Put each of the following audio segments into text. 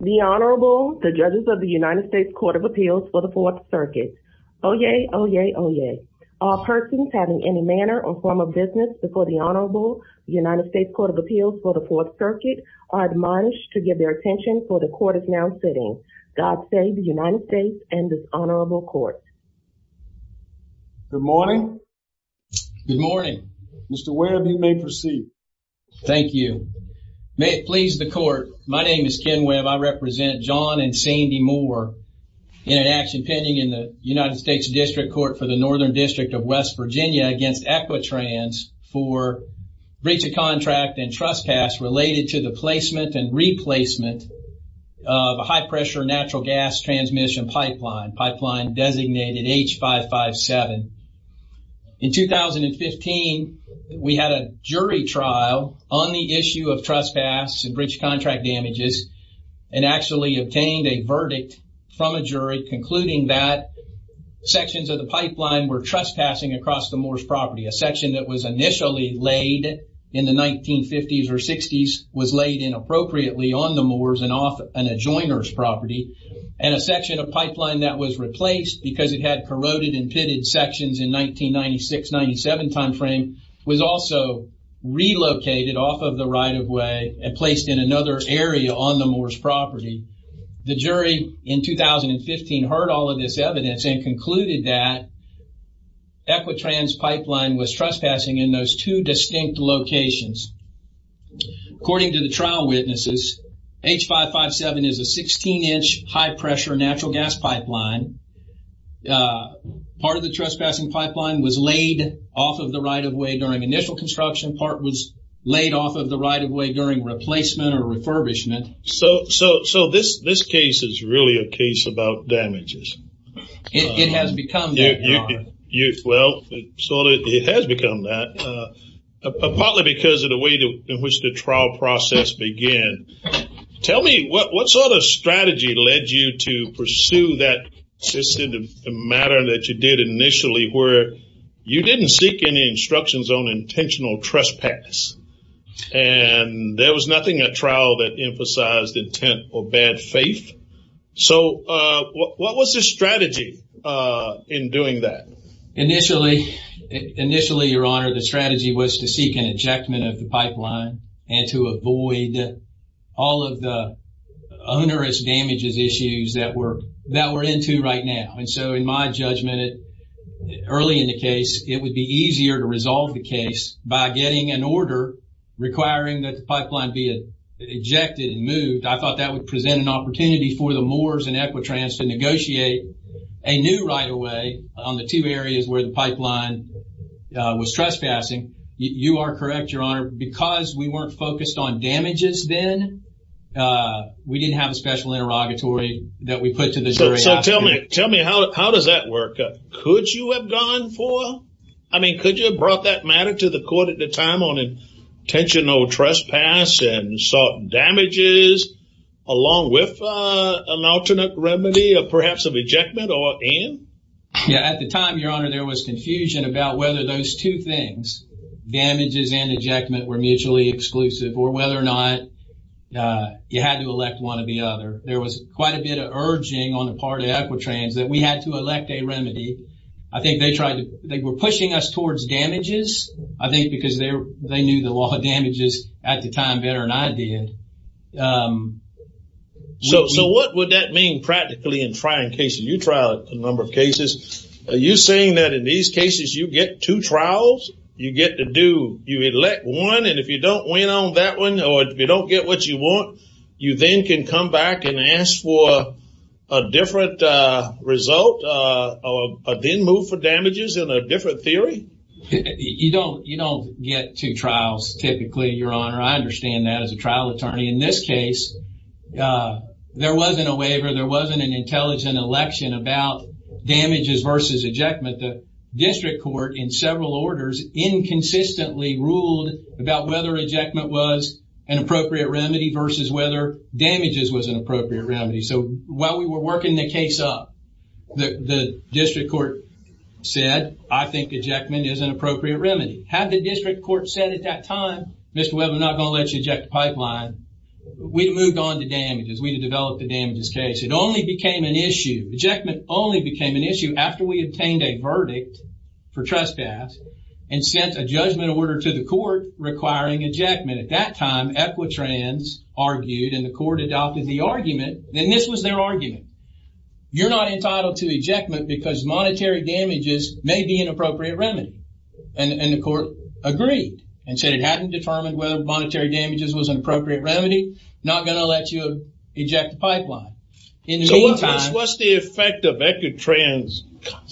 The Honorable, the judges of the United States Court of Appeals for the Fourth Circuit. Oyez, oyez, oyez. All persons having any manner or form of business before the Honorable United States Court of Appeals for the Fourth Circuit are admonished to give their attention for the court is now sitting. God save the United States and this honorable court. Good morning. Good morning. Mr. Ware, you may proceed. Thank you. May it please the court. My name is Ken Webb. I represent John and Sandy Moore in an action pending in the United States District Court for the Northern District of West Virginia against Equitrans for breach of contract and trespass related to the placement and replacement of a high-pressure natural gas transmission pipeline. Pipeline designated H557. In 2015 we had a jury trial on the issue of trespass and breach of contract damages and actually obtained a verdict from a jury concluding that sections of the pipeline were trespassing across the Moore's property. A section that was initially laid in the 1950s or 60s was laid inappropriately on the Moore's and off an adjoiner's property and a section of pipeline that was replaced because it had corroded and pitted sections in 1996-97 time frame was also relocated off of the right-of-way and placed in another area on the Moore's property. The jury in 2015 heard all of this evidence and concluded that Equitrans pipeline was trespassing in those two distinct locations. According to the trial witnesses H557 is a 16-inch high pressure natural gas pipeline. Part of the trespassing pipeline was laid off of the right-of-way during initial construction. Part was laid off of the right-of-way during replacement or refurbishment. So this case is really a case about damages. It has become that. Well it has become that partly because of the way in which the trial process began. Tell me what sort of strategy led you to pursue that matter that you did initially where you didn't seek any instructions on intentional trespass and there was nothing at trial that emphasized intent or bad faith. So what was the strategy in doing that? Initially your honor the strategy was to seek an onerous damages issues that we're that we're into right now and so in my judgment early in the case it would be easier to resolve the case by getting an order requiring that the pipeline be ejected and moved. I thought that would present an opportunity for the Moores and Equitrans to negotiate a new right-of-way on the two areas where the pipeline was trespassing. You are correct your honor because we weren't focused on damages then we didn't have a special interrogatory that we put to the jury. So tell me tell me how does that work? Could you have gone for I mean could you have brought that matter to the court at the time on intentional trespass and sought damages along with an alternate remedy of perhaps of ejectment or in? Yeah at the time your honor there was mutually exclusive or whether or not you had to elect one of the other. There was quite a bit of urging on the part of Equitrans that we had to elect a remedy. I think they tried to they were pushing us towards damages I think because they they knew the law of damages at the time better than I did. So what would that mean practically in trying cases? You tried a number of cases. Are you saying that in these cases you get two trials you get to do you elect one and if you don't win on that one or if you don't get what you want you then can come back and ask for a different result or then move for damages in a different theory? You don't you don't get two trials typically your honor I understand that as a trial attorney. In this case there wasn't a waiver there wasn't an ejectment. The district court in several orders inconsistently ruled about whether ejectment was an appropriate remedy versus whether damages was an appropriate remedy. So while we were working the case up the district court said I think ejectment is an appropriate remedy. Had the district court said at that time Mr. Webb I'm not going to let you eject the pipeline we moved on to damages. We developed the damages case. It only became an issue. Ejectment only became an issue after we obtained a verdict for trespass and sent a judgment order to the court requiring ejectment. At that time Equitrans argued and the court adopted the argument and this was their argument. You're not entitled to ejectment because monetary damages may be an appropriate remedy and the court agreed and said it hadn't determined whether monetary damages was an appropriate remedy not going to let you eject the pipeline. So what's the effect of Equitrans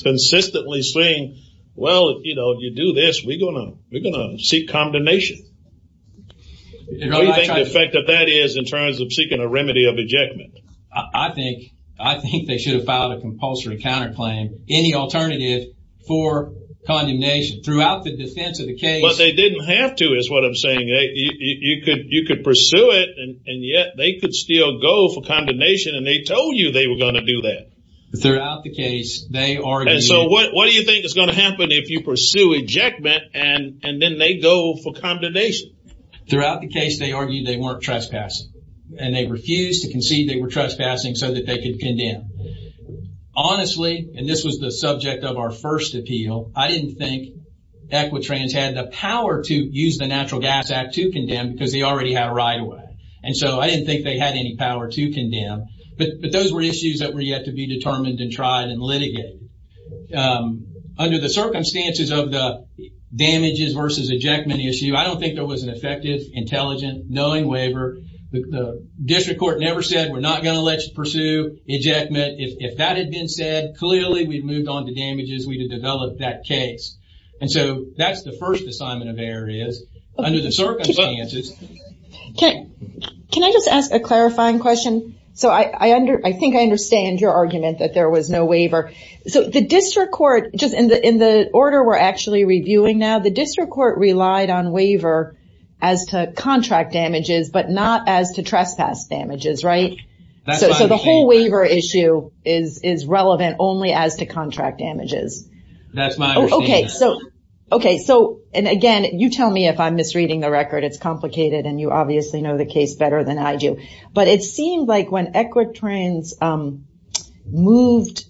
consistently saying well you know you do this we're gonna we're gonna seek condemnation. What do you think the effect of that is in terms of seeking a remedy of ejectment? I think I think they should have filed a compulsory counterclaim any alternative for condemnation throughout the defense of the case. But they didn't have to is what I'm saying. You could you could pursue it and and yet they could still go for condemnation and they told you they were going to do that. Throughout the case they argued. And so what what do you think is going to happen if you pursue ejectment and and then they go for condemnation? Throughout the case they argued they weren't trespassing and they refused to concede they were trespassing so that they could condemn. Honestly and this was the subject of our first appeal I didn't think Equitrans had the power to use the Natural Gas Act to condemn because they already had a right away and so I didn't think they had any power to condemn. But those were issues that were yet to be determined and tried and litigated. Under the circumstances of the damages versus ejectment issue I don't think there was an effective intelligent knowing waiver. The district court never said we're not going to let you pursue ejectment. If that had been said clearly we've moved on to damages we to develop that case. And so that's the first assignment of error is under the circumstances. Okay can I just ask a clarifying question? So I think I understand your argument that there was no waiver. So the district court just in the in the order we're actually reviewing now the district court relied on waiver as to contract damages but not as to trespass damages right? So the whole waiver issue is is relevant only as to contract damages. That's my okay so okay so and you obviously know the case better than I do. But it seemed like when Equitrans moved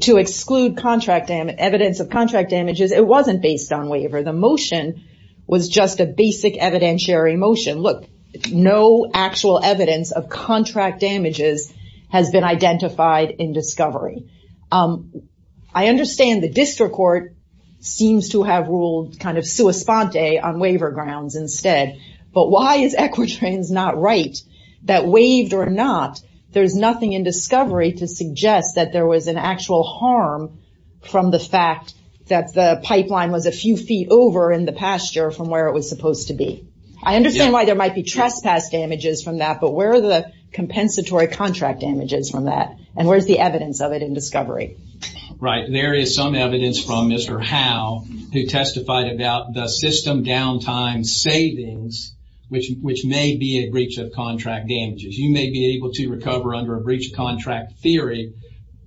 to exclude contract damage evidence of contract damages it wasn't based on waiver. The motion was just a basic evidentiary motion. Look no actual evidence of contract damages has been identified in discovery. I understand the district court seems to have ruled kind of sua sponte on waiver grounds instead. But why is Equitrans not right? That waived or not there's nothing in discovery to suggest that there was an actual harm from the fact that the pipeline was a few feet over in the pasture from where it was supposed to be. I understand why there might be trespass damages from that but where are the compensatory contract damages from that? And where's the evidence of it in discovery? Right there is some evidence from Mr. Howe who testified about the system downtime savings which which may be a breach of contract damages. You may be able to recover under a breach of contract theory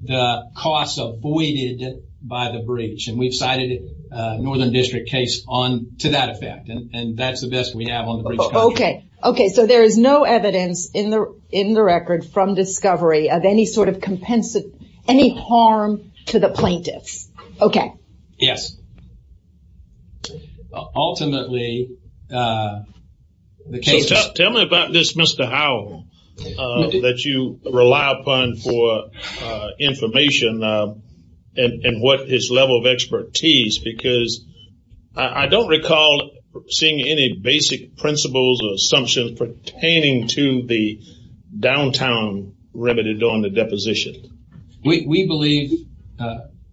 the costs avoided by the breach. And we've cited a northern district case on to that effect and that's the best we have on the breach. Okay okay so there is no evidence in the in the record from discovery of any sort of compensate any harm to the plaintiffs. Okay yes ultimately the case. Tell me about this Mr. Howe that you rely upon for information and what his level of expertise because I don't recall seeing any basic principles or assumptions pertaining to the downtown remedy during the deposition. We believe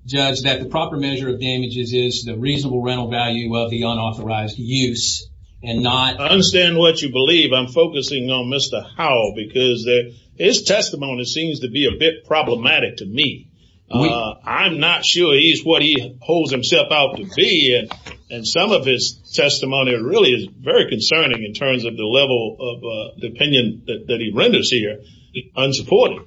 judge that the proper measure of damages is the reasonable rental value of the unauthorized use and not. I understand what you believe I'm focusing on Mr. Howe because his testimony seems to be a bit problematic to me. I'm not sure he's what he holds himself out to be and some of his testimony really is very concerning in terms of the level of the that he renders here unsupported.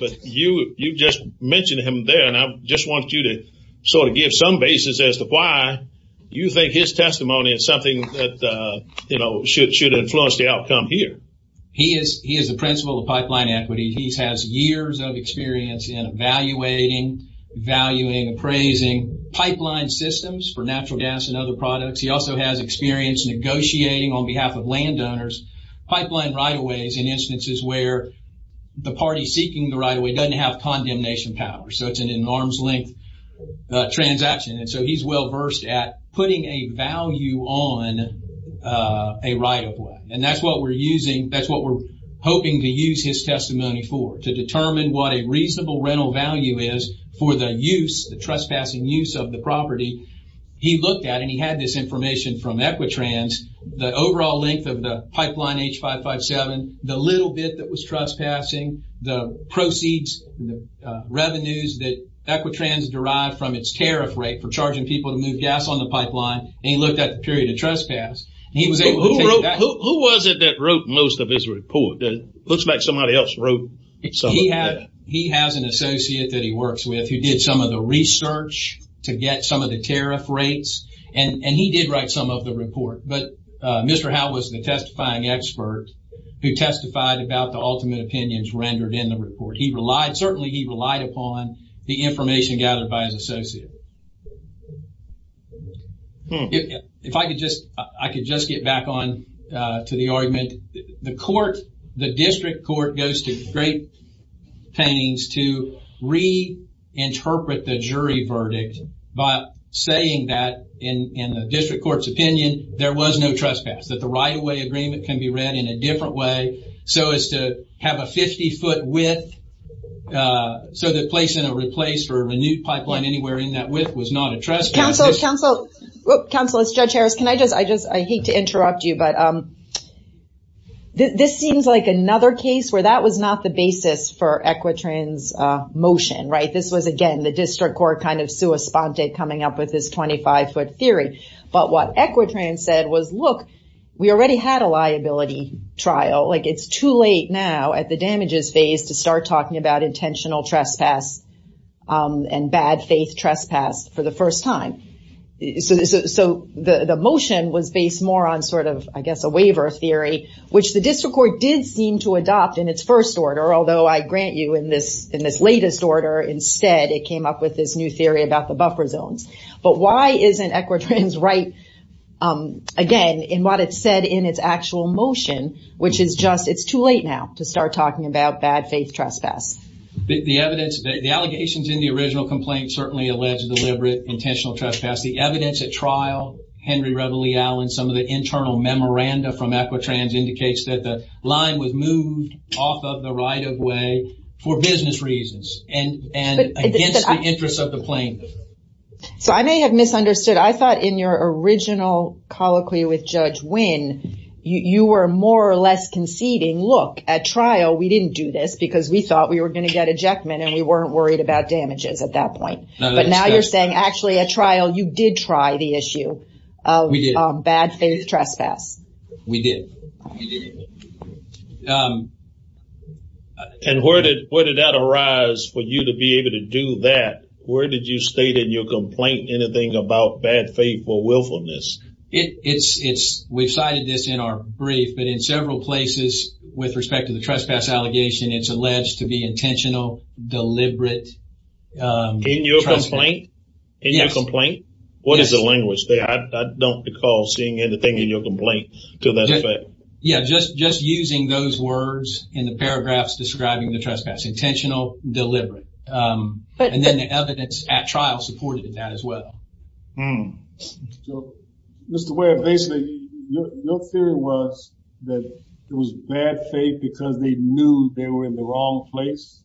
But you you just mentioned him there and I just want you to sort of give some basis as to why you think his testimony is something that you know should should influence the outcome here. He is he is the principal of pipeline equity. He has years of experience in evaluating, valuing, appraising pipeline systems for natural gas and other products. He also has experience negotiating on behalf of landowners pipeline right-of-ways in instances where the party seeking the right-of-way doesn't have condemnation power. So it's an in arm's-length transaction and so he's well versed at putting a value on a right-of-way and that's what we're using that's what we're hoping to use his testimony for to determine what a reasonable rental value is for the use the trespassing use of the property. He looked at and he had this information from Equitrans, the overall length of the pipeline H557, the little bit that was trespassing, the proceeds, revenues that Equitrans derived from its tariff rate for charging people to move gas on the pipeline and he looked at the period of trespass. Who was it that wrote most of his report? Looks like somebody else wrote. He has an associate that he did write some of the report but Mr. Howe was the testifying expert who testified about the ultimate opinions rendered in the report. He relied certainly he relied upon the information gathered by his associate. If I could just I could just get back on to the argument. The court, the district court goes to great pains to reinterpret the jury verdict by saying that in the district court's opinion there was no trespass. That the right-of-way agreement can be read in a different way so as to have a 50-foot width so the place in a replace for a renewed pipeline anywhere in that width was not a trespass. Counselors, Judge Harris, can I just I just I hate to interrupt you but this seems like another case where that was not the basis for Equitrans motion right this was again the district court kind of sua sponte coming up with this 25-foot theory but what Equitrans said was look we already had a liability trial like it's too late now at the damages phase to start talking about intentional trespass and bad faith trespass for the first time. So the motion was based more on sort of I guess a waiver theory which the district court did seem to adopt in its first order although I grant you in this in this latest order instead it came up with this new theory about the buffer zones but why isn't Equitrans right again in what it said in its actual motion which is just it's too late now to start talking about bad faith trespass. The evidence the allegations in the original complaint certainly alleged deliberate intentional trespass the evidence at trial Henry Reveille Allen some of the internal memoranda from Equitrans indicates that the line was moved off of the right-of-way for business reasons and and interests of the plaintiff. So I may have misunderstood I thought in your original colloquy with Judge Wynn you were more or less conceding look at trial we didn't do this because we thought we were going to get ejectment and we weren't worried about damages at that point but now you're saying actually a trial you did try the issue of bad faith trespass. We did. And where did where did that arise for you to be able to do that where did you state in your complaint anything about bad faith or willfulness? It's it's we've cited this in our brief but in several places with respect to the trespass allegation it's alleged to be intentional deliberate. In your complaint? Yes. In your complaint? What is the language? I don't recall seeing anything in your complaint to that effect. Yeah just just using those words in the paragraphs describing the trespass intentional deliberate and then the evidence at trial supported that as well. Mr. Webb basically your theory was that it was bad faith because they knew they were in the wrong place?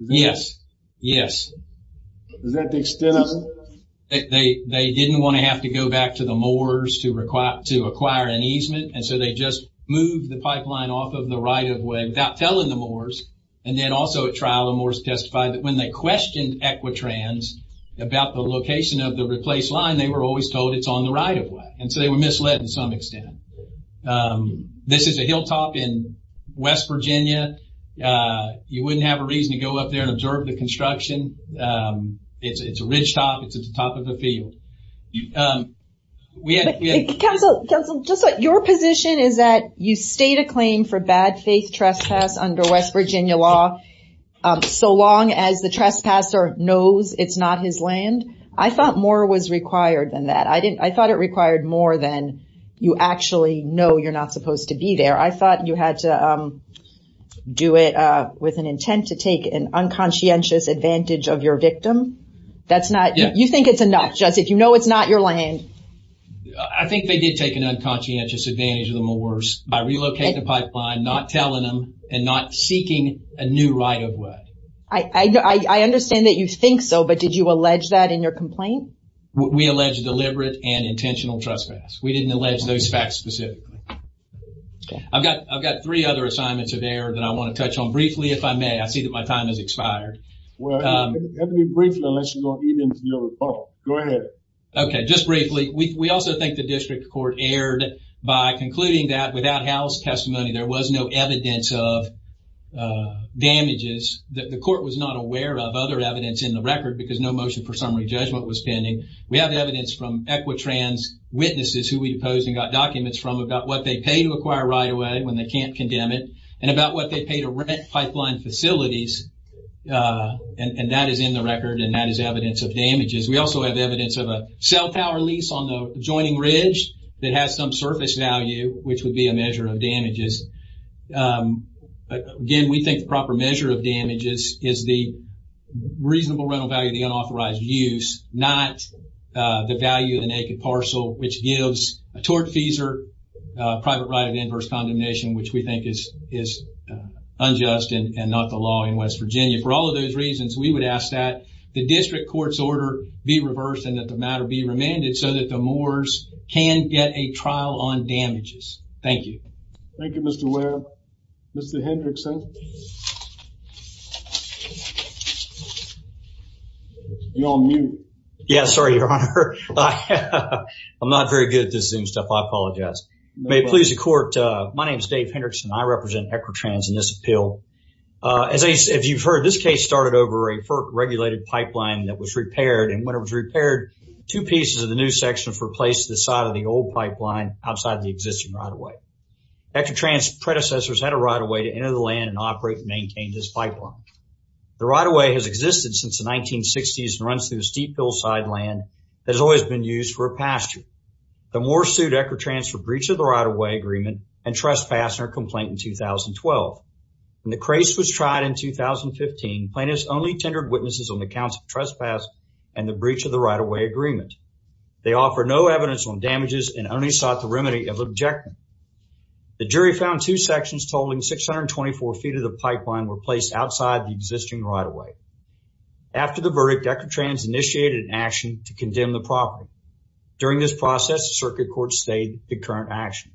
Yes yes. Is that the extent? They didn't want to have to go back to the Moors to require to acquire an easement and so they just moved the pipeline off of the right-of-way without telling the Moors and then also at trial the Moors testified that when they questioned Equitrans about the location of the replace line they were always told it's on the right-of-way and so they were misled in some extent. This is a hilltop in West Virginia. You wouldn't have a reason to go up there and observe the construction. It's a ridgetop. It's at the top of the field. Counsel just like your position is that you state a claim for bad faith trespass under West Virginia law so long as the trespasser knows it's not his land. I thought more was required than that. I didn't I thought it required more than you actually know you're not supposed to be there. I thought you had to do it with an intent to take an unconscientious advantage of your victim. That's not you think it's enough just if you know it's not your land. I think they did take an unconscientious advantage of the Moors by relocating the pipeline not telling them and not seeking a new right-of-way. I understand that you think so but did you allege that in your complaint? We allege deliberate and we didn't allege those facts specifically. I've got I've got three other assignments of air that I want to touch on briefly if I may. I see that my time has expired. Okay just briefly we also think the District Court aired by concluding that without house testimony there was no evidence of damages that the court was not aware of other evidence in the record because no motion for summary judgment was pending. We have evidence from Equitrans witnesses who we deposed and got documents from about what they pay to acquire right-of-way when they can't condemn it and about what they pay to rent pipeline facilities and that is in the record and that is evidence of damages. We also have evidence of a cell tower lease on the adjoining Ridge that has some surface value which would be a measure of damages. Again we think the proper measure of damages is the reasonable rental value of the which gives a tortfeasor private right of inverse condemnation which we think is is unjust and not the law in West Virginia. For all of those reasons we would ask that the District Court's order be reversed and that the matter be remanded so that the Moore's can get a trial on damages. Thank you. Thank You I'm not very good at this Zoom stuff I apologize. May it please the court my name is Dave Hendrickson I represent Equitrans in this appeal. As you've heard this case started over a FERC regulated pipeline that was repaired and when it was repaired two pieces of the new sections were placed to the side of the old pipeline outside the existing right-of-way. Equitrans predecessors had a right-of-way to enter the land and operate and maintain this pipeline. The right-of-way has existed since the 1960s and runs through steep hillside land that has always been used for a pasture. The Moore sued Equitrans for breach of the right-of-way agreement and trespass in her complaint in 2012. When the case was tried in 2015 plaintiffs only tendered witnesses on the counts of trespass and the breach of the right-of-way agreement. They offer no evidence on damages and only sought the remedy of the objection. The jury found two sections totaling 624 feet of the pipeline were placed outside the existing right-of-way. After the condemn the property. During this process circuit court stayed the current action.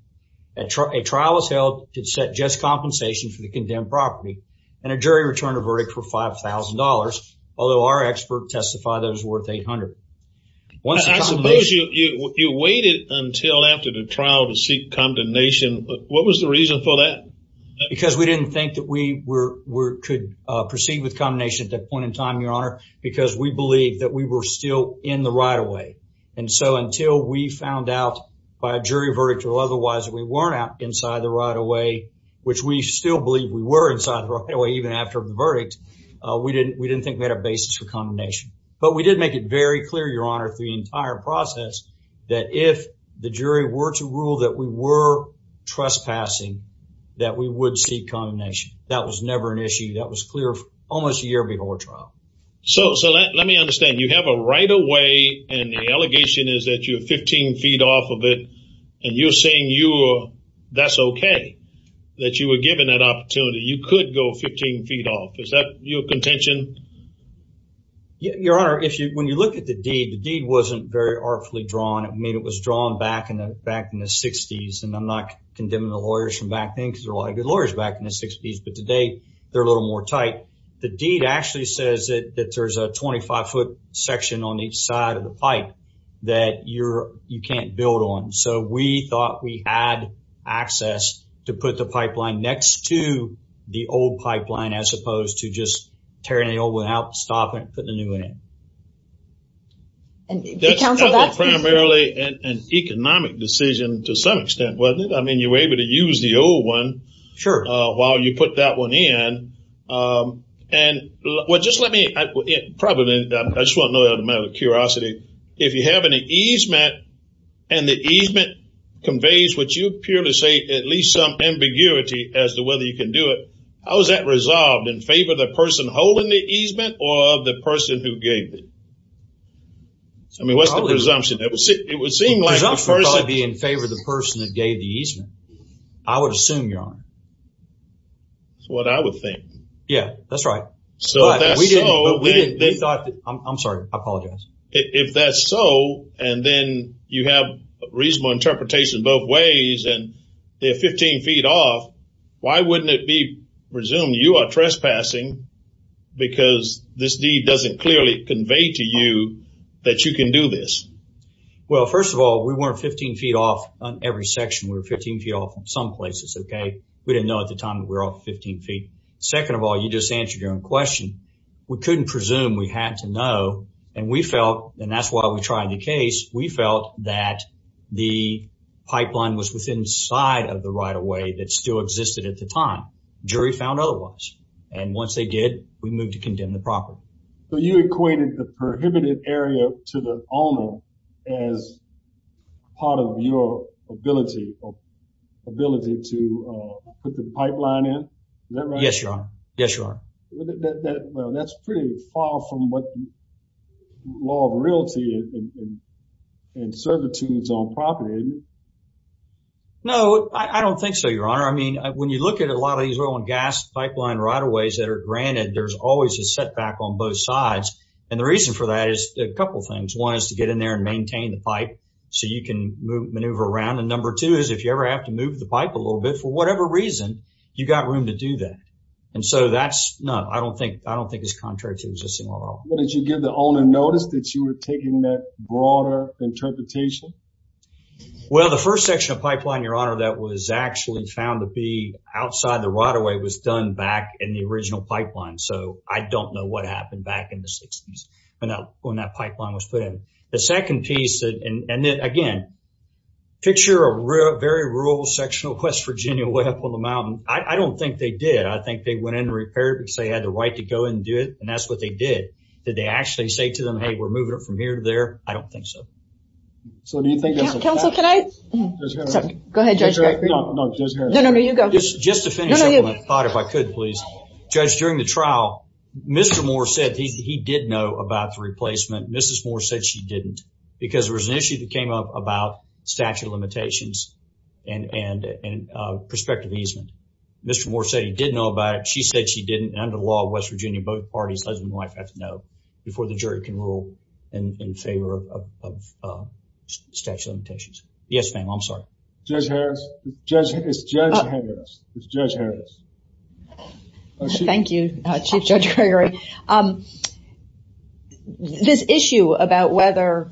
A trial was held to set just compensation for the condemned property and a jury returned a verdict for $5,000 although our expert testified that was worth $800. I suppose you waited until after the trial to seek condemnation but what was the reason for that? Because we didn't think that we were could proceed with condemnation at that point in time your honor because we believe that we were still in the right-of-way and so until we found out by a jury verdict or otherwise we weren't out inside the right-of-way which we still believe we were inside right away even after the verdict we didn't we didn't think we had a basis for condemnation but we did make it very clear your honor through the entire process that if the jury were to rule that we were trespassing that we would seek condemnation that was never an understand you have a right-of-way and the allegation is that you're 15 feet off of it and you're saying you that's okay that you were given that opportunity you could go 15 feet off is that your contention? Your honor if you when you look at the deed the deed wasn't very artfully drawn it mean it was drawn back in the back in the 60s and I'm not condemning the lawyers from back then because there are a lot of good lawyers back in the 60s but today they're a little more tight the deed actually says it that there's a 25 foot section on each side of the pipe that you're you can't build on so we thought we had access to put the pipeline next to the old pipeline as opposed to just tearing the old one out stop it put the new one in primarily an economic decision to some extent wasn't it I mean you were able to use the old one sure while you put that one in and well just let me probably I just want to know the matter of curiosity if you have any easement and the easement conveys what you appear to say at least some ambiguity as to whether you can do it how is that resolved in favor of the person holding the easement or of the person who gave it? I mean what's the presumption? It would seem like it would probably be in favor of the person that gave the easement. I would assume your honor. That's what I would think. Yeah that's right. I'm sorry I apologize. If that's so and then you have reasonable interpretation both ways and they're 15 feet off why wouldn't it be presumed you are trespassing because this deed doesn't clearly convey to you that you can do this well first of all we weren't 15 feet off on every section we're 15 feet off in some places okay we didn't know at the time we're all 15 feet second of all you just answered your own question we couldn't presume we had to know and we felt and that's why we tried the case we felt that the pipeline was within side of the right-of-way that still existed at the time jury found otherwise and once they did we moved to condemn the property so you equated the prohibited area to the owner as part of your ability ability to put the pipeline in yes your honor yes your honor that well that's pretty far from what law of realty and servitudes on property no I don't think so your honor I mean when you look at a lot of these oil and gas pipeline right-of-ways that are granted there's always a setback on both sides and the reason for that is a couple things one is to get in there and maintain the pipe so you can maneuver around and number two is if you ever have to move the pipe a little bit for whatever reason you got room to do that and so that's not I don't think I don't think it's contrary to existing law did you give the owner notice that you were taking that broader interpretation well the first section of pipeline your honor that was actually found to be outside the right-of-way was done back in the original pipeline so I don't know what happened back in the 60s and that when that pipeline was put in the second piece and then again picture a very rural sectional West Virginia way up on the mountain I don't think they did I think they went in to repair it because they had the right to go and do it and that's what they did did they actually say to them hey we're moving it from here to there I don't think so so do you think council tonight go ahead just to finish I thought if I could please judge during the trial mr. Moore said he did know about the replacement mrs. Moore said she didn't because there was an issue that came up about statute of limitations and and and prospective easement mr. Moore said he did know about it she said she didn't under the law of West Virginia both parties husband wife have to know before the jury can rule in favor of statute of limitations yes ma'am I'm sorry judge Harris judge it's judge Harris it's judge Harris thank you judge Gregory this issue about whether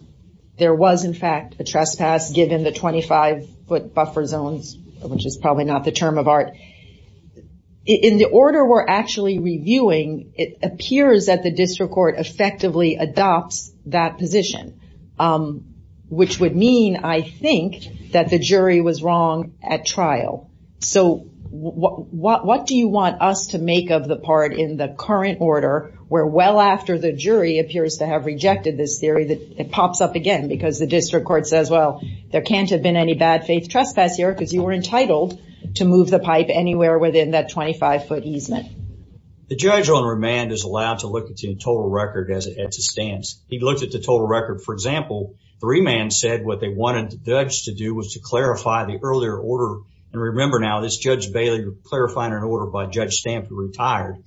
there was in fact a trespass given the 25-foot buffer zones which is probably not the term of art in the order we're actually reviewing it appears that the district court effectively adopts that position which would mean I think that the jury was wrong at trial so what do you want us to make of the part in the current order where well after the jury appears to have rejected this theory that it pops up again because the district court says well there can't have been any bad faith trespass here because you were entitled to move the pipe anywhere within that 25-foot easement the judge on remand is allowed to look at the total record as it stands he looked at the total record for example the remand said what they wanted the judge to do was to clarify the earlier order and remember now this judge Bailey clarifying an order by judge stamp who retired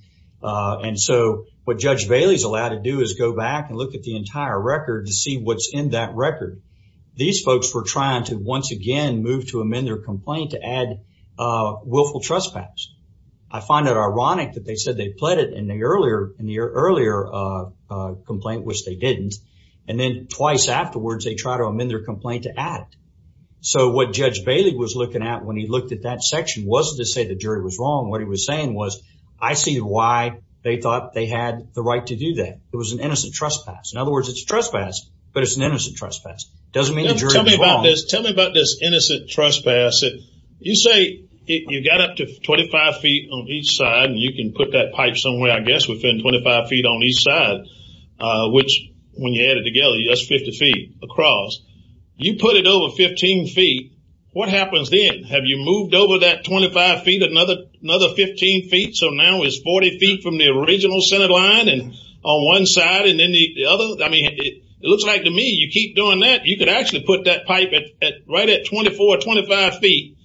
and so what judge Bailey's allowed to do is go back and look at the entire record to see what's in that record these folks were trying to once again move to amend their trespass I find it ironic that they said they pled it in the earlier in the earlier complaint which they didn't and then twice afterwards they try to amend their complaint to add so what judge Bailey was looking at when he looked at that section wasn't to say the jury was wrong what he was saying was I see why they thought they had the right to do that it was an innocent trespass in other words it's trespass but it's an innocent trespass doesn't mean tell me about this tell me about this innocent trespass it you say you got up to 25 feet on each side and you can put that pipe somewhere I guess within 25 feet on each side which when you add it together yes 50 feet across you put it over 15 feet what happens then have you moved over that 25 feet another another 15 feet so now is 40 feet from the original Senate line and on one side and then the other I mean it looks like to me you keep doing that you could actually put that pipe at right at 24 or 25 feet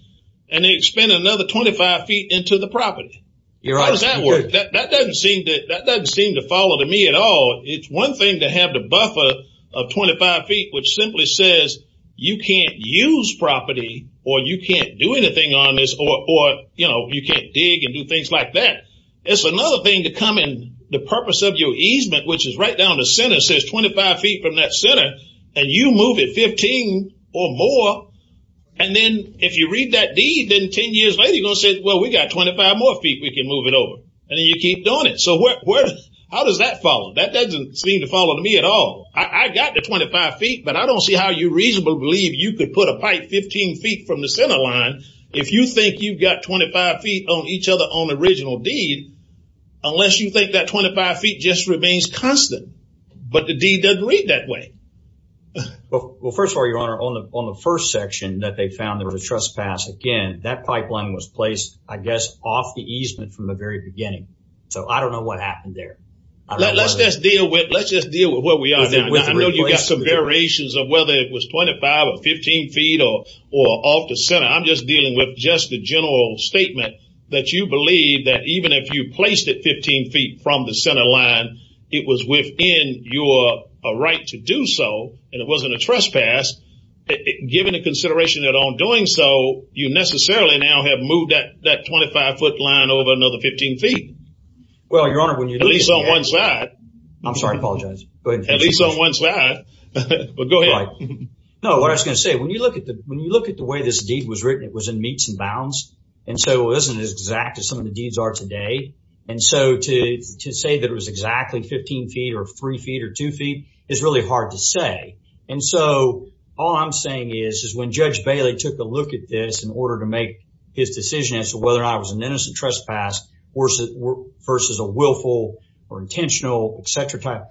and they spend another 25 feet into the property you're on that work that doesn't seem that that doesn't seem to follow to me at all it's one thing to have the buffer of 25 feet which simply says you can't use property or you can't do anything on this or you know you can't dig and do things like that it's another thing to come in the purpose of your easement which is right down the center says 25 feet from that Center and you move it 15 or more and then if you read that deed then 10 years later you gonna say well we got 25 more feet we can move it over and then you keep doing it so what where how does that follow that doesn't seem to follow to me at all I got the 25 feet but I don't see how you reasonable believe you could put a pipe 15 feet from the center line if you think you've got 25 feet on each other on original deed unless you think that 25 feet just remains constant but the D doesn't read that way well first of all your honor on the on the first section that they found there was a trespass again that pipeline was placed I guess off the easement from the very beginning so I don't know what happened there let's just deal with let's just deal with what we are you got some variations of whether it was 25 or 15 feet or or off the center I'm just dealing with just a general statement that you believe that even if you placed it 15 feet from the right to do so and it wasn't a trespass given a consideration at all doing so you necessarily now have moved that that 25 foot line over another 15 feet well your honor when you do this on one side I'm sorry apologize but at least on one side but go ahead no what I was gonna say when you look at the when you look at the way this deed was written it was in meets and bounds and so isn't as exact as some of the deeds are today and so to say that it was exactly 15 feet or 3 feet or 2 feet is really hard to say and so all I'm saying is is when judge Bailey took a look at this in order to make his decision as to whether I was an innocent trespass or versus a willful or intentional etc type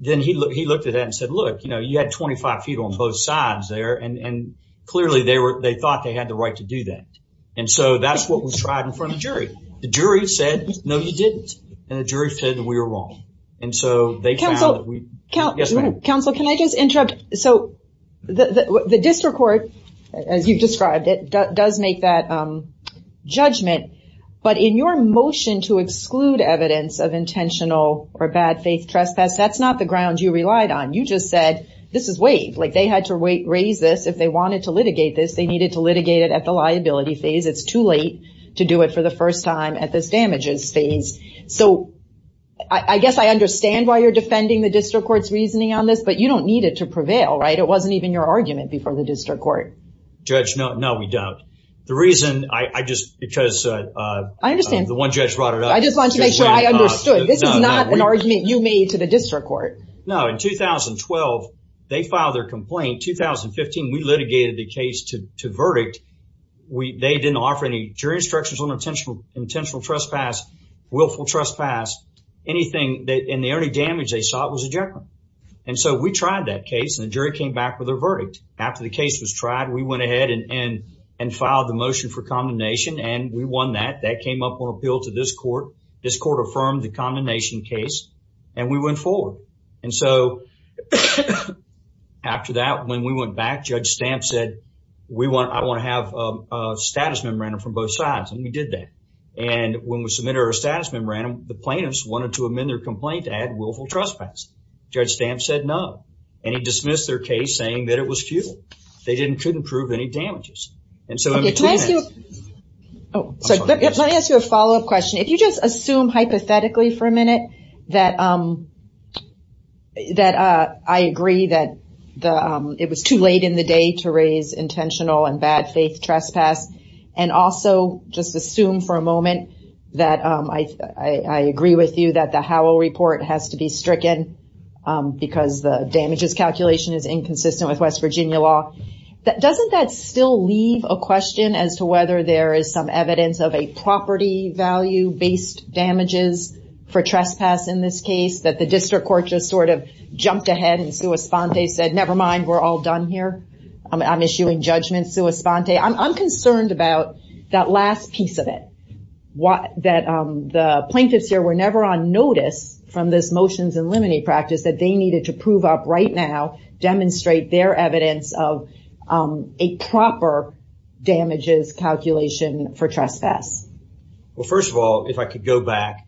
then he looked he looked at that and said look you know you had 25 feet on both sides there and and clearly they were they thought they had the right to do that and so that's what was tried in front of jury the jury said no you didn't and the jury said we were wrong and so they counsel counsel can I just interrupt so the district court as you described it does make that judgment but in your motion to exclude evidence of intentional or bad faith trespass that's not the ground you relied on you just said this is wave like they had to wait raise this if they wanted to litigate this they needed to litigate it at the liability phase it's too late to do it for the first time at this damages phase so I guess I understand why you're defending the district courts reasoning on this but you don't need it to prevail right it wasn't even your argument before the district court judge no no we don't the reason I just because I understand the one judge brought it up I just want to make sure I understood this is not an argument you made to the district court no in 2012 they filed their complaint 2015 we litigated the case to verdict we they didn't offer any jury instructions on intentional intentional trespass willful trespass anything that in the early damage they saw it was a gentleman and so we tried that case and the jury came back with a verdict after the case was tried we went ahead and and filed the motion for condemnation and we won that that came up on appeal to this court this court affirmed the condemnation case and we went forward and so after that when we went back judge stamp said we want I want to have a status memorandum from both sides and we did that and when we submit our status memorandum the plaintiffs wanted to amend their complaint to add willful trespass judge stamp said no and he dismissed their case saying that it was futile they didn't couldn't prove any damages and so let me ask you a follow-up if you just assume hypothetically for a minute that that I agree that the it was too late in the day to raise intentional and bad-faith trespass and also just assume for a moment that I agree with you that the Howell report has to be stricken because the damages calculation is inconsistent with West Virginia law that doesn't that still leave a question as to whether there is some evidence of a property value based damages for trespass in this case that the district court just sort of jumped ahead and Sua Sponte said never mind we're all done here I'm issuing judgments Sua Sponte I'm concerned about that last piece of it what that the plaintiffs here were never on notice from this motions and limiting practice that they needed to prove up right now demonstrate their calculation for trespass well first of all if I could go back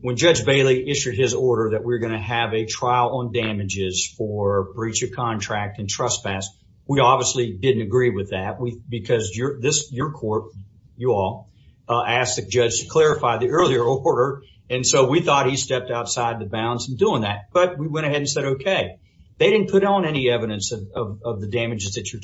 when judge Bailey issued his order that we're going to have a trial on damages for breach of contract and trespass we obviously didn't agree with that we because you're this your court you all asked the judge to clarify the earlier order and so we thought he stepped outside the bounds and doing that but we went ahead and said okay they didn't put on any evidence of the damages that you're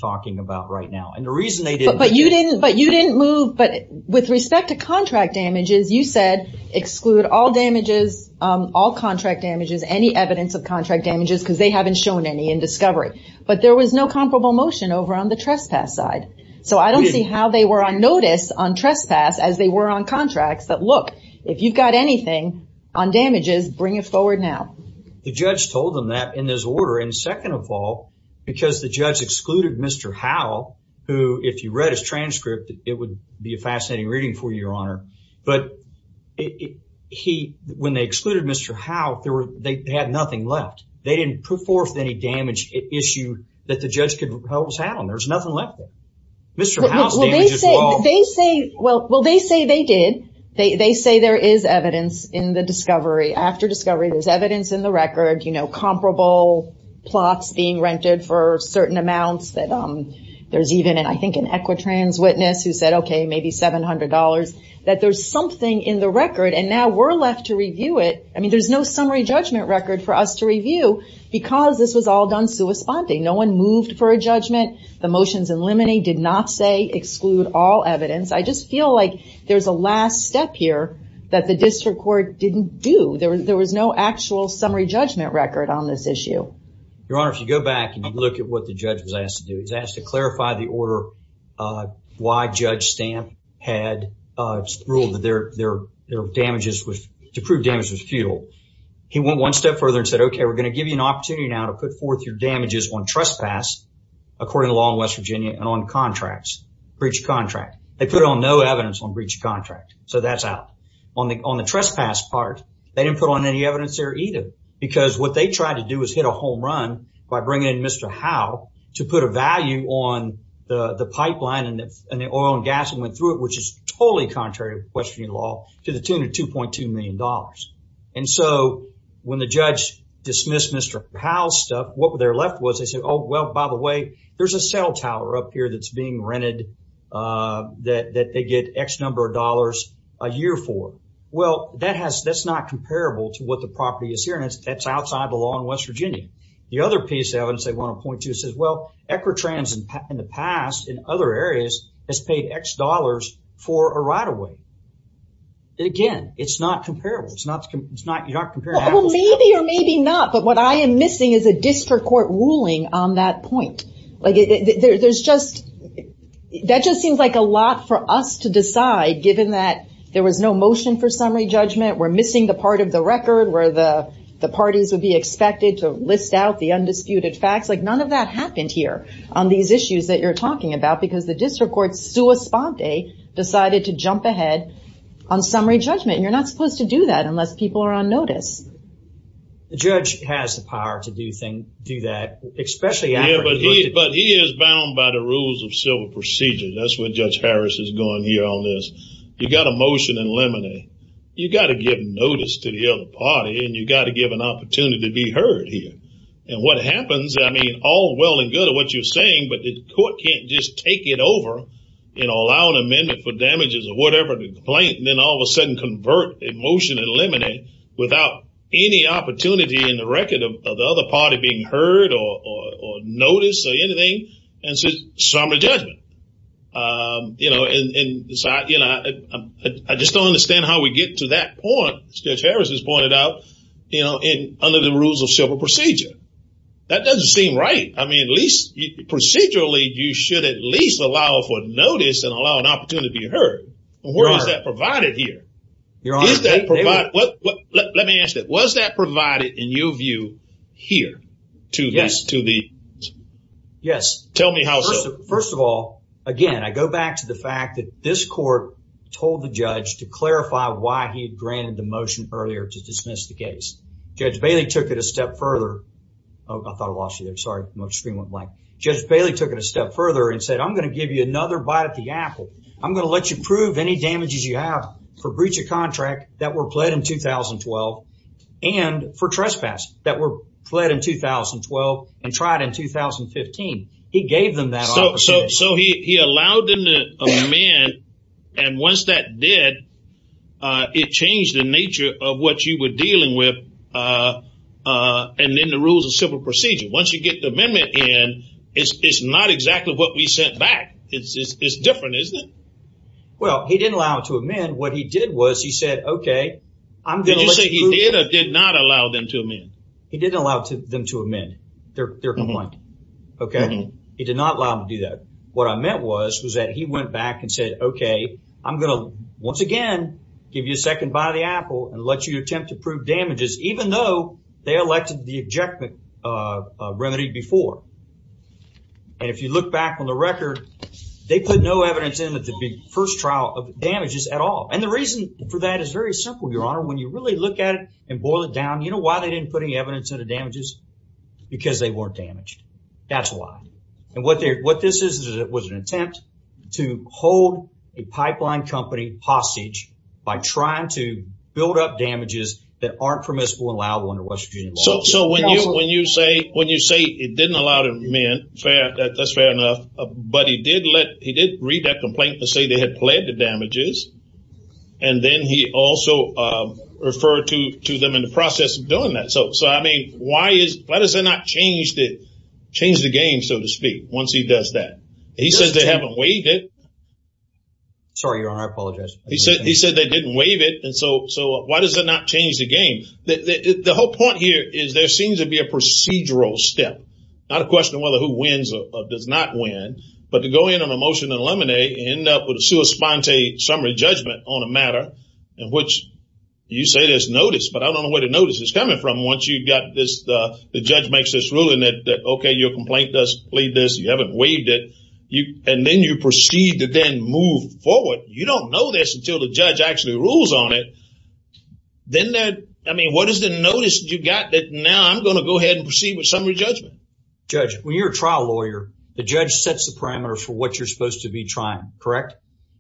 you didn't move but with respect to contract damages you said exclude all damages all contract damages any evidence of contract damages because they haven't shown any in discovery but there was no comparable motion over on the trespass side so I don't see how they were on notice on trespass as they were on contracts that look if you've got anything on damages bring it forward now the judge told them that in this order and second of all because the judge excluded mr. Howell who if you read his transcript it would be a fascinating reading for your honor but he when they excluded mr. how there were they had nothing left they didn't put forth any damage issue that the judge could help us out on there's nothing left mr. they say well well they say they did they say there is evidence in the discovery after discovery there's evidence in the there's even and I think an equitrans witness who said okay maybe $700 that there's something in the record and now we're left to review it I mean there's no summary judgment record for us to review because this was all done sui sponte no one moved for a judgment the motions in limine did not say exclude all evidence I just feel like there's a last step here that the district court didn't do there was no actual summary judgment record on this issue your honor if you go back and look at what the judge was asked to do he's asked to clarify the order why judge stamp had ruled that their their their damages was to prove damage was futile he went one step further and said okay we're gonna give you an opportunity now to put forth your damages on trespass according to law in West Virginia and on contracts breach contract they put on no evidence on breach of contract so that's out on the on the trespass part they didn't put on any evidence there either because what they tried to do is hit a home run by bringing in mr. Howe to put a value on the the pipeline and the oil and gas and went through it which is totally contrary to West Virginia law to the tune of 2.2 million dollars and so when the judge dismissed mr. Powell stuff what were there left was they said oh well by the way there's a cell tower up here that's being rented that that they get X number of dollars a year for well that has that's not comparable to what the property is here and it's that's outside the law in West Virginia the other piece of evidence they want to point to says well equitrans in the past in other areas has paid X dollars for a right-of-way again it's not comparable it's not it's not you're not maybe or maybe not but what I am missing is a district court ruling on that point like there's just that just seems like a lot for us to decide given that there was no motion for summary judgment we're the the parties would be expected to list out the undisputed facts like none of that happened here on these issues that you're talking about because the district court's sua sponte decided to jump ahead on summary judgment and you're not supposed to do that unless people are on notice the judge has the power to do thing do that especially yeah but he but he is bound by the rules of civil procedure that's what judge Harris is going here on this you got a notice to the other party and you got to give an opportunity to be heard here and what happens I mean all well and good of what you're saying but the court can't just take it over you know allow an amendment for damages or whatever the complaint and then all of a sudden convert a motion and eliminate without any opportunity in the record of the other party being heard or notice or anything and says summary judgment you know and decide you know I just don't understand how we get to that point judge Harris has pointed out you know in under the rules of civil procedure that doesn't seem right I mean at least procedurally you should at least allow for notice and allow an opportunity to be heard where is that provided here your honor let me ask that was that provided in your view here to yes to the yes tell me how first of all again I go back to the fact that this court told the judge to clarify why he granted the motion earlier to dismiss the case judge Bailey took it a step further I thought I lost you there sorry much screen went blank judge Bailey took it a step further and said I'm gonna give you another bite at the apple I'm gonna let you prove any damages you have for breach of contract that were pledged in 2012 and for trespass that were pledged in 2012 and tried in 2015 he gave them so he allowed them to amend and once that did it changed the nature of what you were dealing with and then the rules of civil procedure once you get the amendment in it's not exactly what we sent back it's different isn't it well he didn't allow it to amend what he did was he said okay I'm gonna say he did or did not allow them to amend he didn't allow them to amend their point okay he did not allow me to do that what I meant was was that he went back and said okay I'm gonna once again give you a second bite of the apple and let you attempt to prove damages even though they elected the ejectment remedy before and if you look back on the record they put no evidence in that the big first trial of damages at all and the reason for that is very simple your honor when you really look at it and boil it down you know why they didn't put any what this is that was an attempt to hold a pipeline company hostage by trying to build up damages that aren't permissible and allow one to what so when you when you say when you say it didn't allow to amend fair that that's fair enough but he did let he did read that complaint to say they had pledged the damages and then he also referred to to them in the process of doing that so so I mean why is why does it not change to change the game so to speak once he does that he says they haven't waived it sorry your honor I apologize he said he said they didn't waive it and so so why does it not change the game the whole point here is there seems to be a procedural step not a question whether who wins or does not win but to go in on a motion to eliminate end up with a sua sponte summary judgment on a matter in which you say there's notice but I this the judge makes this ruling that okay your complaint does plead this you haven't waived it you and then you proceed to then move forward you don't know this until the judge actually rules on it then that I mean what is the notice you got that now I'm gonna go ahead and proceed with summary judgment judge when you're a trial lawyer the judge sets the parameters for what you're supposed to be trying correct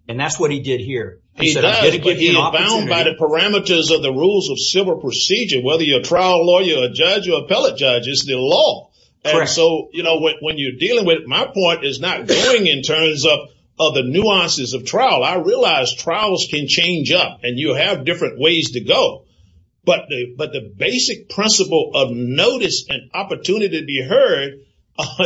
and that's what he did here he's bound by the parameters of the rules of civil procedure whether you're a trial lawyer judge or appellate judge is the law and so you know when you're dealing with my point is not going in terms of other nuances of trial I realize trials can change up and you have different ways to go but but the basic principle of notice and opportunity to be heard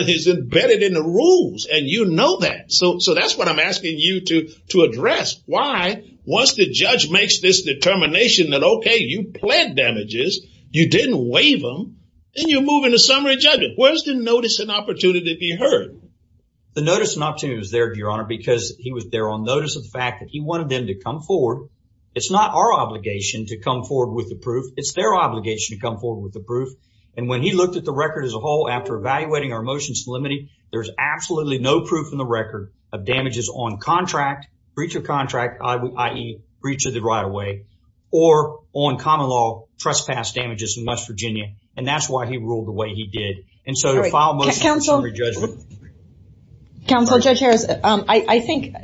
is embedded in the rules and you know that so so that's what I'm asking you to to address why once the judge makes this determination that okay you plant damages you didn't waive them then you move into summary judgment where's the notice and opportunity to be heard the notice not to is there your honor because he was there on notice of the fact that he wanted them to come forward it's not our obligation to come forward with the proof it's their obligation to come forward with the proof and when he looked at the record as a whole after evaluating our motions limiting there's absolutely no proof in the record of damages on contract breach of contract I breach of the right-of-way or on common law trespass damages in West Virginia and that's why he ruled the way he did and so to file motion summary judgment counsel judge Harris I think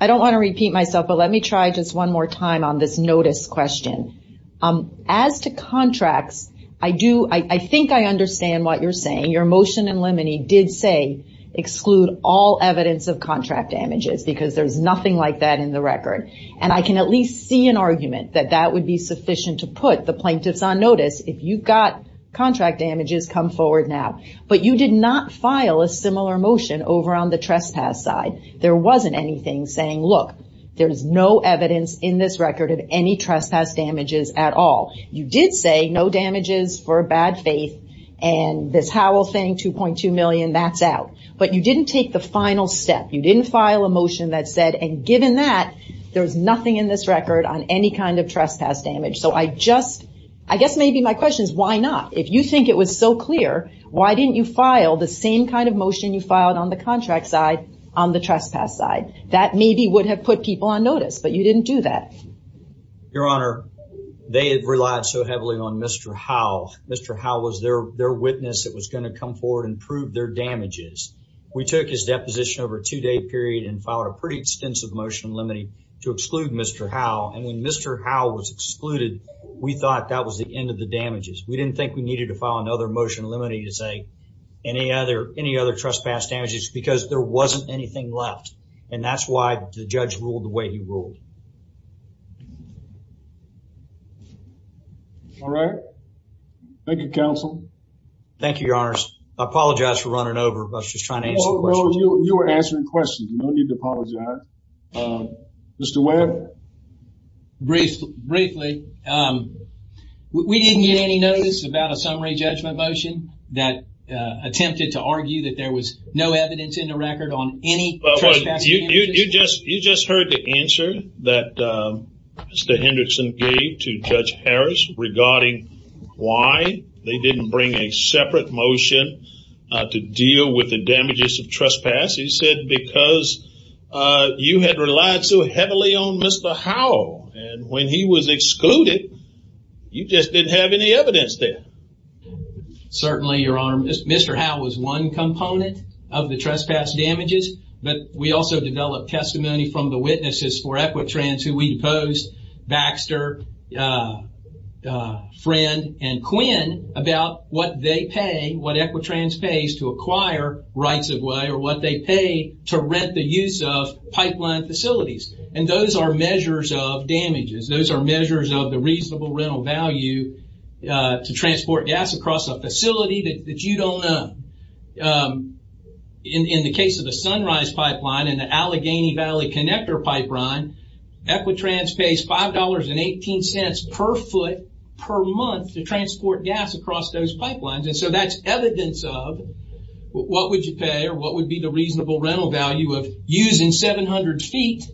I don't want to repeat myself but let me try just one more time on this notice question as to contracts I do I think I understand what you're saying your motion and limiting did say exclude all evidence of contract damages because there's nothing like that in the record and I can at least see an argument that that would be sufficient to put the plaintiffs on notice if you've got contract damages come forward now but you did not file a similar motion over on the trespass side there wasn't anything saying look there's no evidence in this record of any trespass damages at all you did say no damages for bad faith and this howl thing 2.2 million that's out but you didn't take the final step you didn't file a motion that said and given that there's nothing in this record on any kind of trespass damage so I just I guess maybe my question is why not if you think it was so clear why didn't you file the same kind of motion you filed on the contract side on the trespass side that maybe would have put people on notice but you didn't do that your honor they have relied so heavily on mr. how mr. how was there their witness that was going to come forward and prove their damages we took his motion limiting to exclude mr. how and when mr. how was excluded we thought that was the end of the damages we didn't think we needed to file another motion limiting to say any other any other trespass damages because there wasn't anything left and that's why the judge ruled the way he ruled all right thank you counsel thank you your honors I apologize for running over let's just you were answering questions you don't need to apologize mr. Webb brief briefly we didn't get any notice about a summary judgment motion that attempted to argue that there was no evidence in the record on any you just you just heard the answer that mr. Hendrickson gave to judge Harris regarding why they didn't bring a separate motion to deal with the damages of trespass he said because you had relied so heavily on mr. how and when he was excluded you just didn't have any evidence there certainly your honor mr. how was one component of the trespass damages but we also developed testimony from the witnesses for what they pay what equitrans pays to acquire rights of way or what they pay to rent the use of pipeline facilities and those are measures of damages those are measures of the reasonable rental value to transport gas across a facility that you don't know in the case of the sunrise pipeline and the Allegheny Valley connector pipeline equitrans pays five dollars and eighteen cents per foot per month to transport gas across those pipelines and so that's evidence of what would you pay or what would be the reasonable rental value of using 700 feet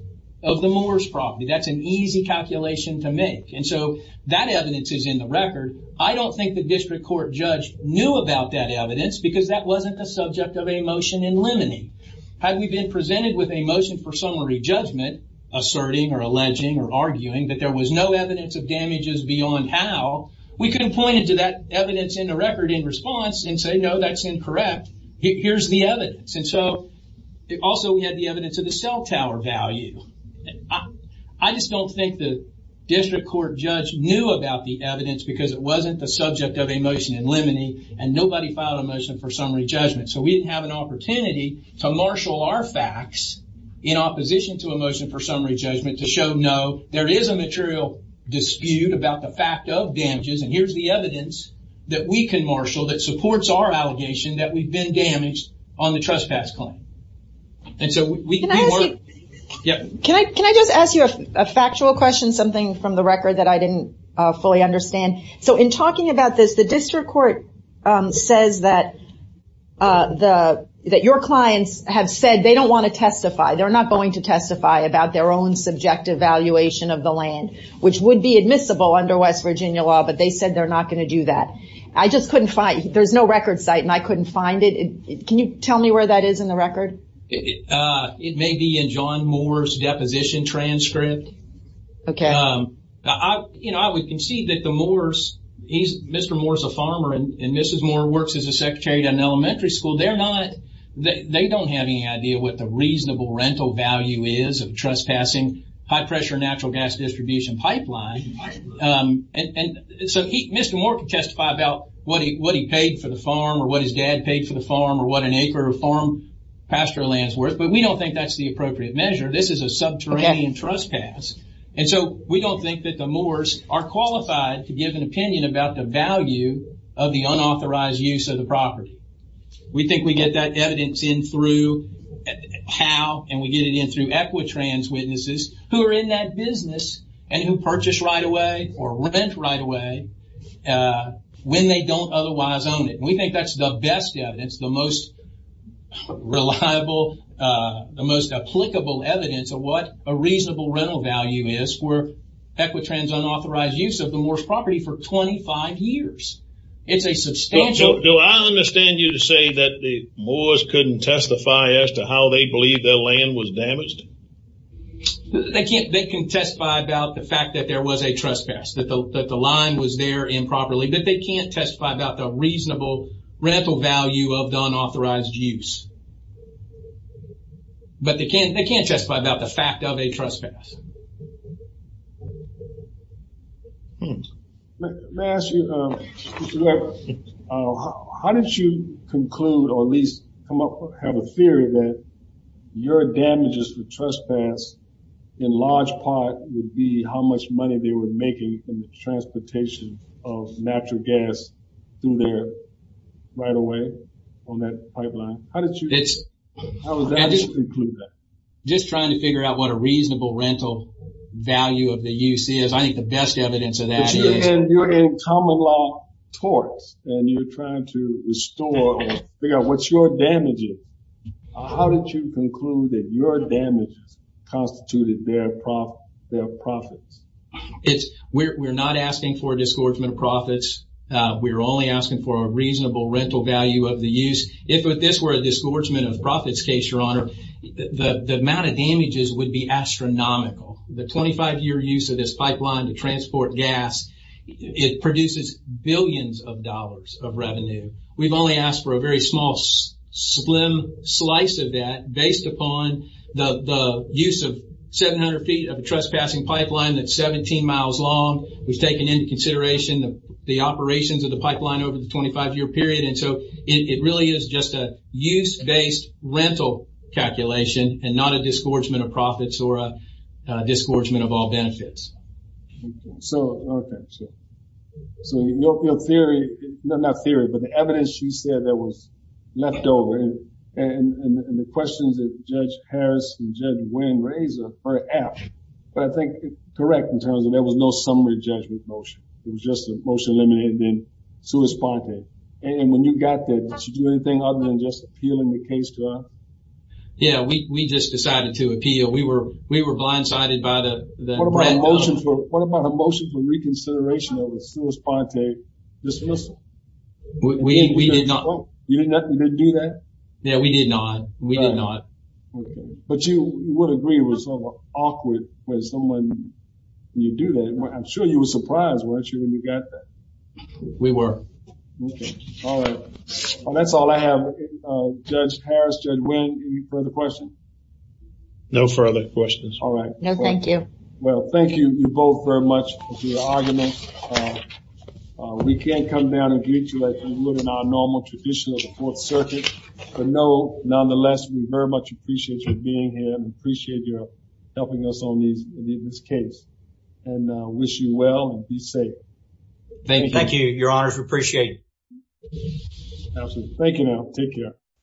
of the moors property that's an easy calculation to make and so that evidence is in the record I don't think the district court judge knew about that evidence because that wasn't the subject of a motion in limine had we been presented with a motion for summary judgment asserting or alleging or somehow we couldn't point it to that evidence in the record in response and say no that's incorrect here's the evidence and so it also we had the evidence of the cell tower value I just don't think the district court judge knew about the evidence because it wasn't the subject of a motion in limine and nobody filed a motion for summary judgment so we didn't have an opportunity to marshal our facts in opposition to a motion for summary judgment to show no there is a material dispute about the fact of damages and here's the evidence that we can marshal that supports our allegation that we've been damaged on the trespass claim and so we can I just ask you a factual question something from the record that I didn't fully understand so in talking about this the district court says that the that your clients have said they don't want to testify they're not going to testify about their own subjective valuation of the land which would be admissible under West Virginia law but they said they're not going to do that I just couldn't find there's no record site and I couldn't find it can you tell me where that is in the record it may be in John Moore's deposition transcript okay I you know I would concede that the Moore's he's mr. Moore's a farmer and mrs. Moore works as a secretary to an reasonable rental value is of trespassing high-pressure natural gas distribution pipeline and so he mr. Moore can testify about what he what he paid for the farm or what his dad paid for the farm or what an acre of farm pasture lands worth but we don't think that's the appropriate measure this is a subterranean trespass and so we don't think that the Moore's are qualified to give an opinion about the value of the unauthorized use of the property we think we get that evidence in through how and we get it in through equitrans witnesses who are in that business and who purchase right away or rent right away when they don't otherwise own it we think that's the best evidence the most reliable the most applicable evidence of what a reasonable rental value is for equitrans unauthorized use of the Moore's property for 25 years it's a substantial do I understand you to say that the Moore's couldn't testify as to how they believe their land was damaged they can't they can testify about the fact that there was a trespass that the line was there improperly but they can't testify about the reasonable rental value of the unauthorized use but they how did you conclude or at least come up have a theory that your damages for trespass in large part would be how much money they were making in the transportation of natural gas through there right away on that pipeline how did you it's just trying to figure out what a reasonable rental value of the you see is I think the best evidence of that you're in common law courts and you're trying to restore figure out what's your damaging how did you conclude that your damage constituted their profit their profits it's we're not asking for a disgorgement of profits we were only asking for a reasonable rental value of the use if with this were a disgorgement of profits case your the amount of damages would be astronomical the 25-year use of this pipeline to transport gas it produces billions of dollars of revenue we've only asked for a very small slim slice of that based upon the use of 700 feet of a trespassing pipeline that's 17 miles long we've taken into consideration the operations of the pipeline over the 25-year period and so it really is just a use-based rental calculation and not a disgorgement of profits or a disgorgement of all benefits so so your theory no not theory but the evidence she said that was left over and the questions that judge Harris and judge Wayne razor perhaps but I think correct in terms of there was no summary judgment motion it was just a motion eliminated in suit spontane and when you got that other than just appealing the case to her yeah we just decided to appeal we were we were blindsided by the what about a motion for reconsideration of the Swiss Ponte dismissal we did not do that yeah we did not we did not but you would agree it was awkward when someone you do that I'm sure you were surprised we were that's all I have no further questions all right no thank you well thank you you both very much we can't come down and greet you like we would in our normal tradition of the Fourth Circuit but no nonetheless we very much appreciate you being here appreciate your helping us on these in this case and wish you well and be safe thank you thank you your honor to appreciate absolutely thank you now take care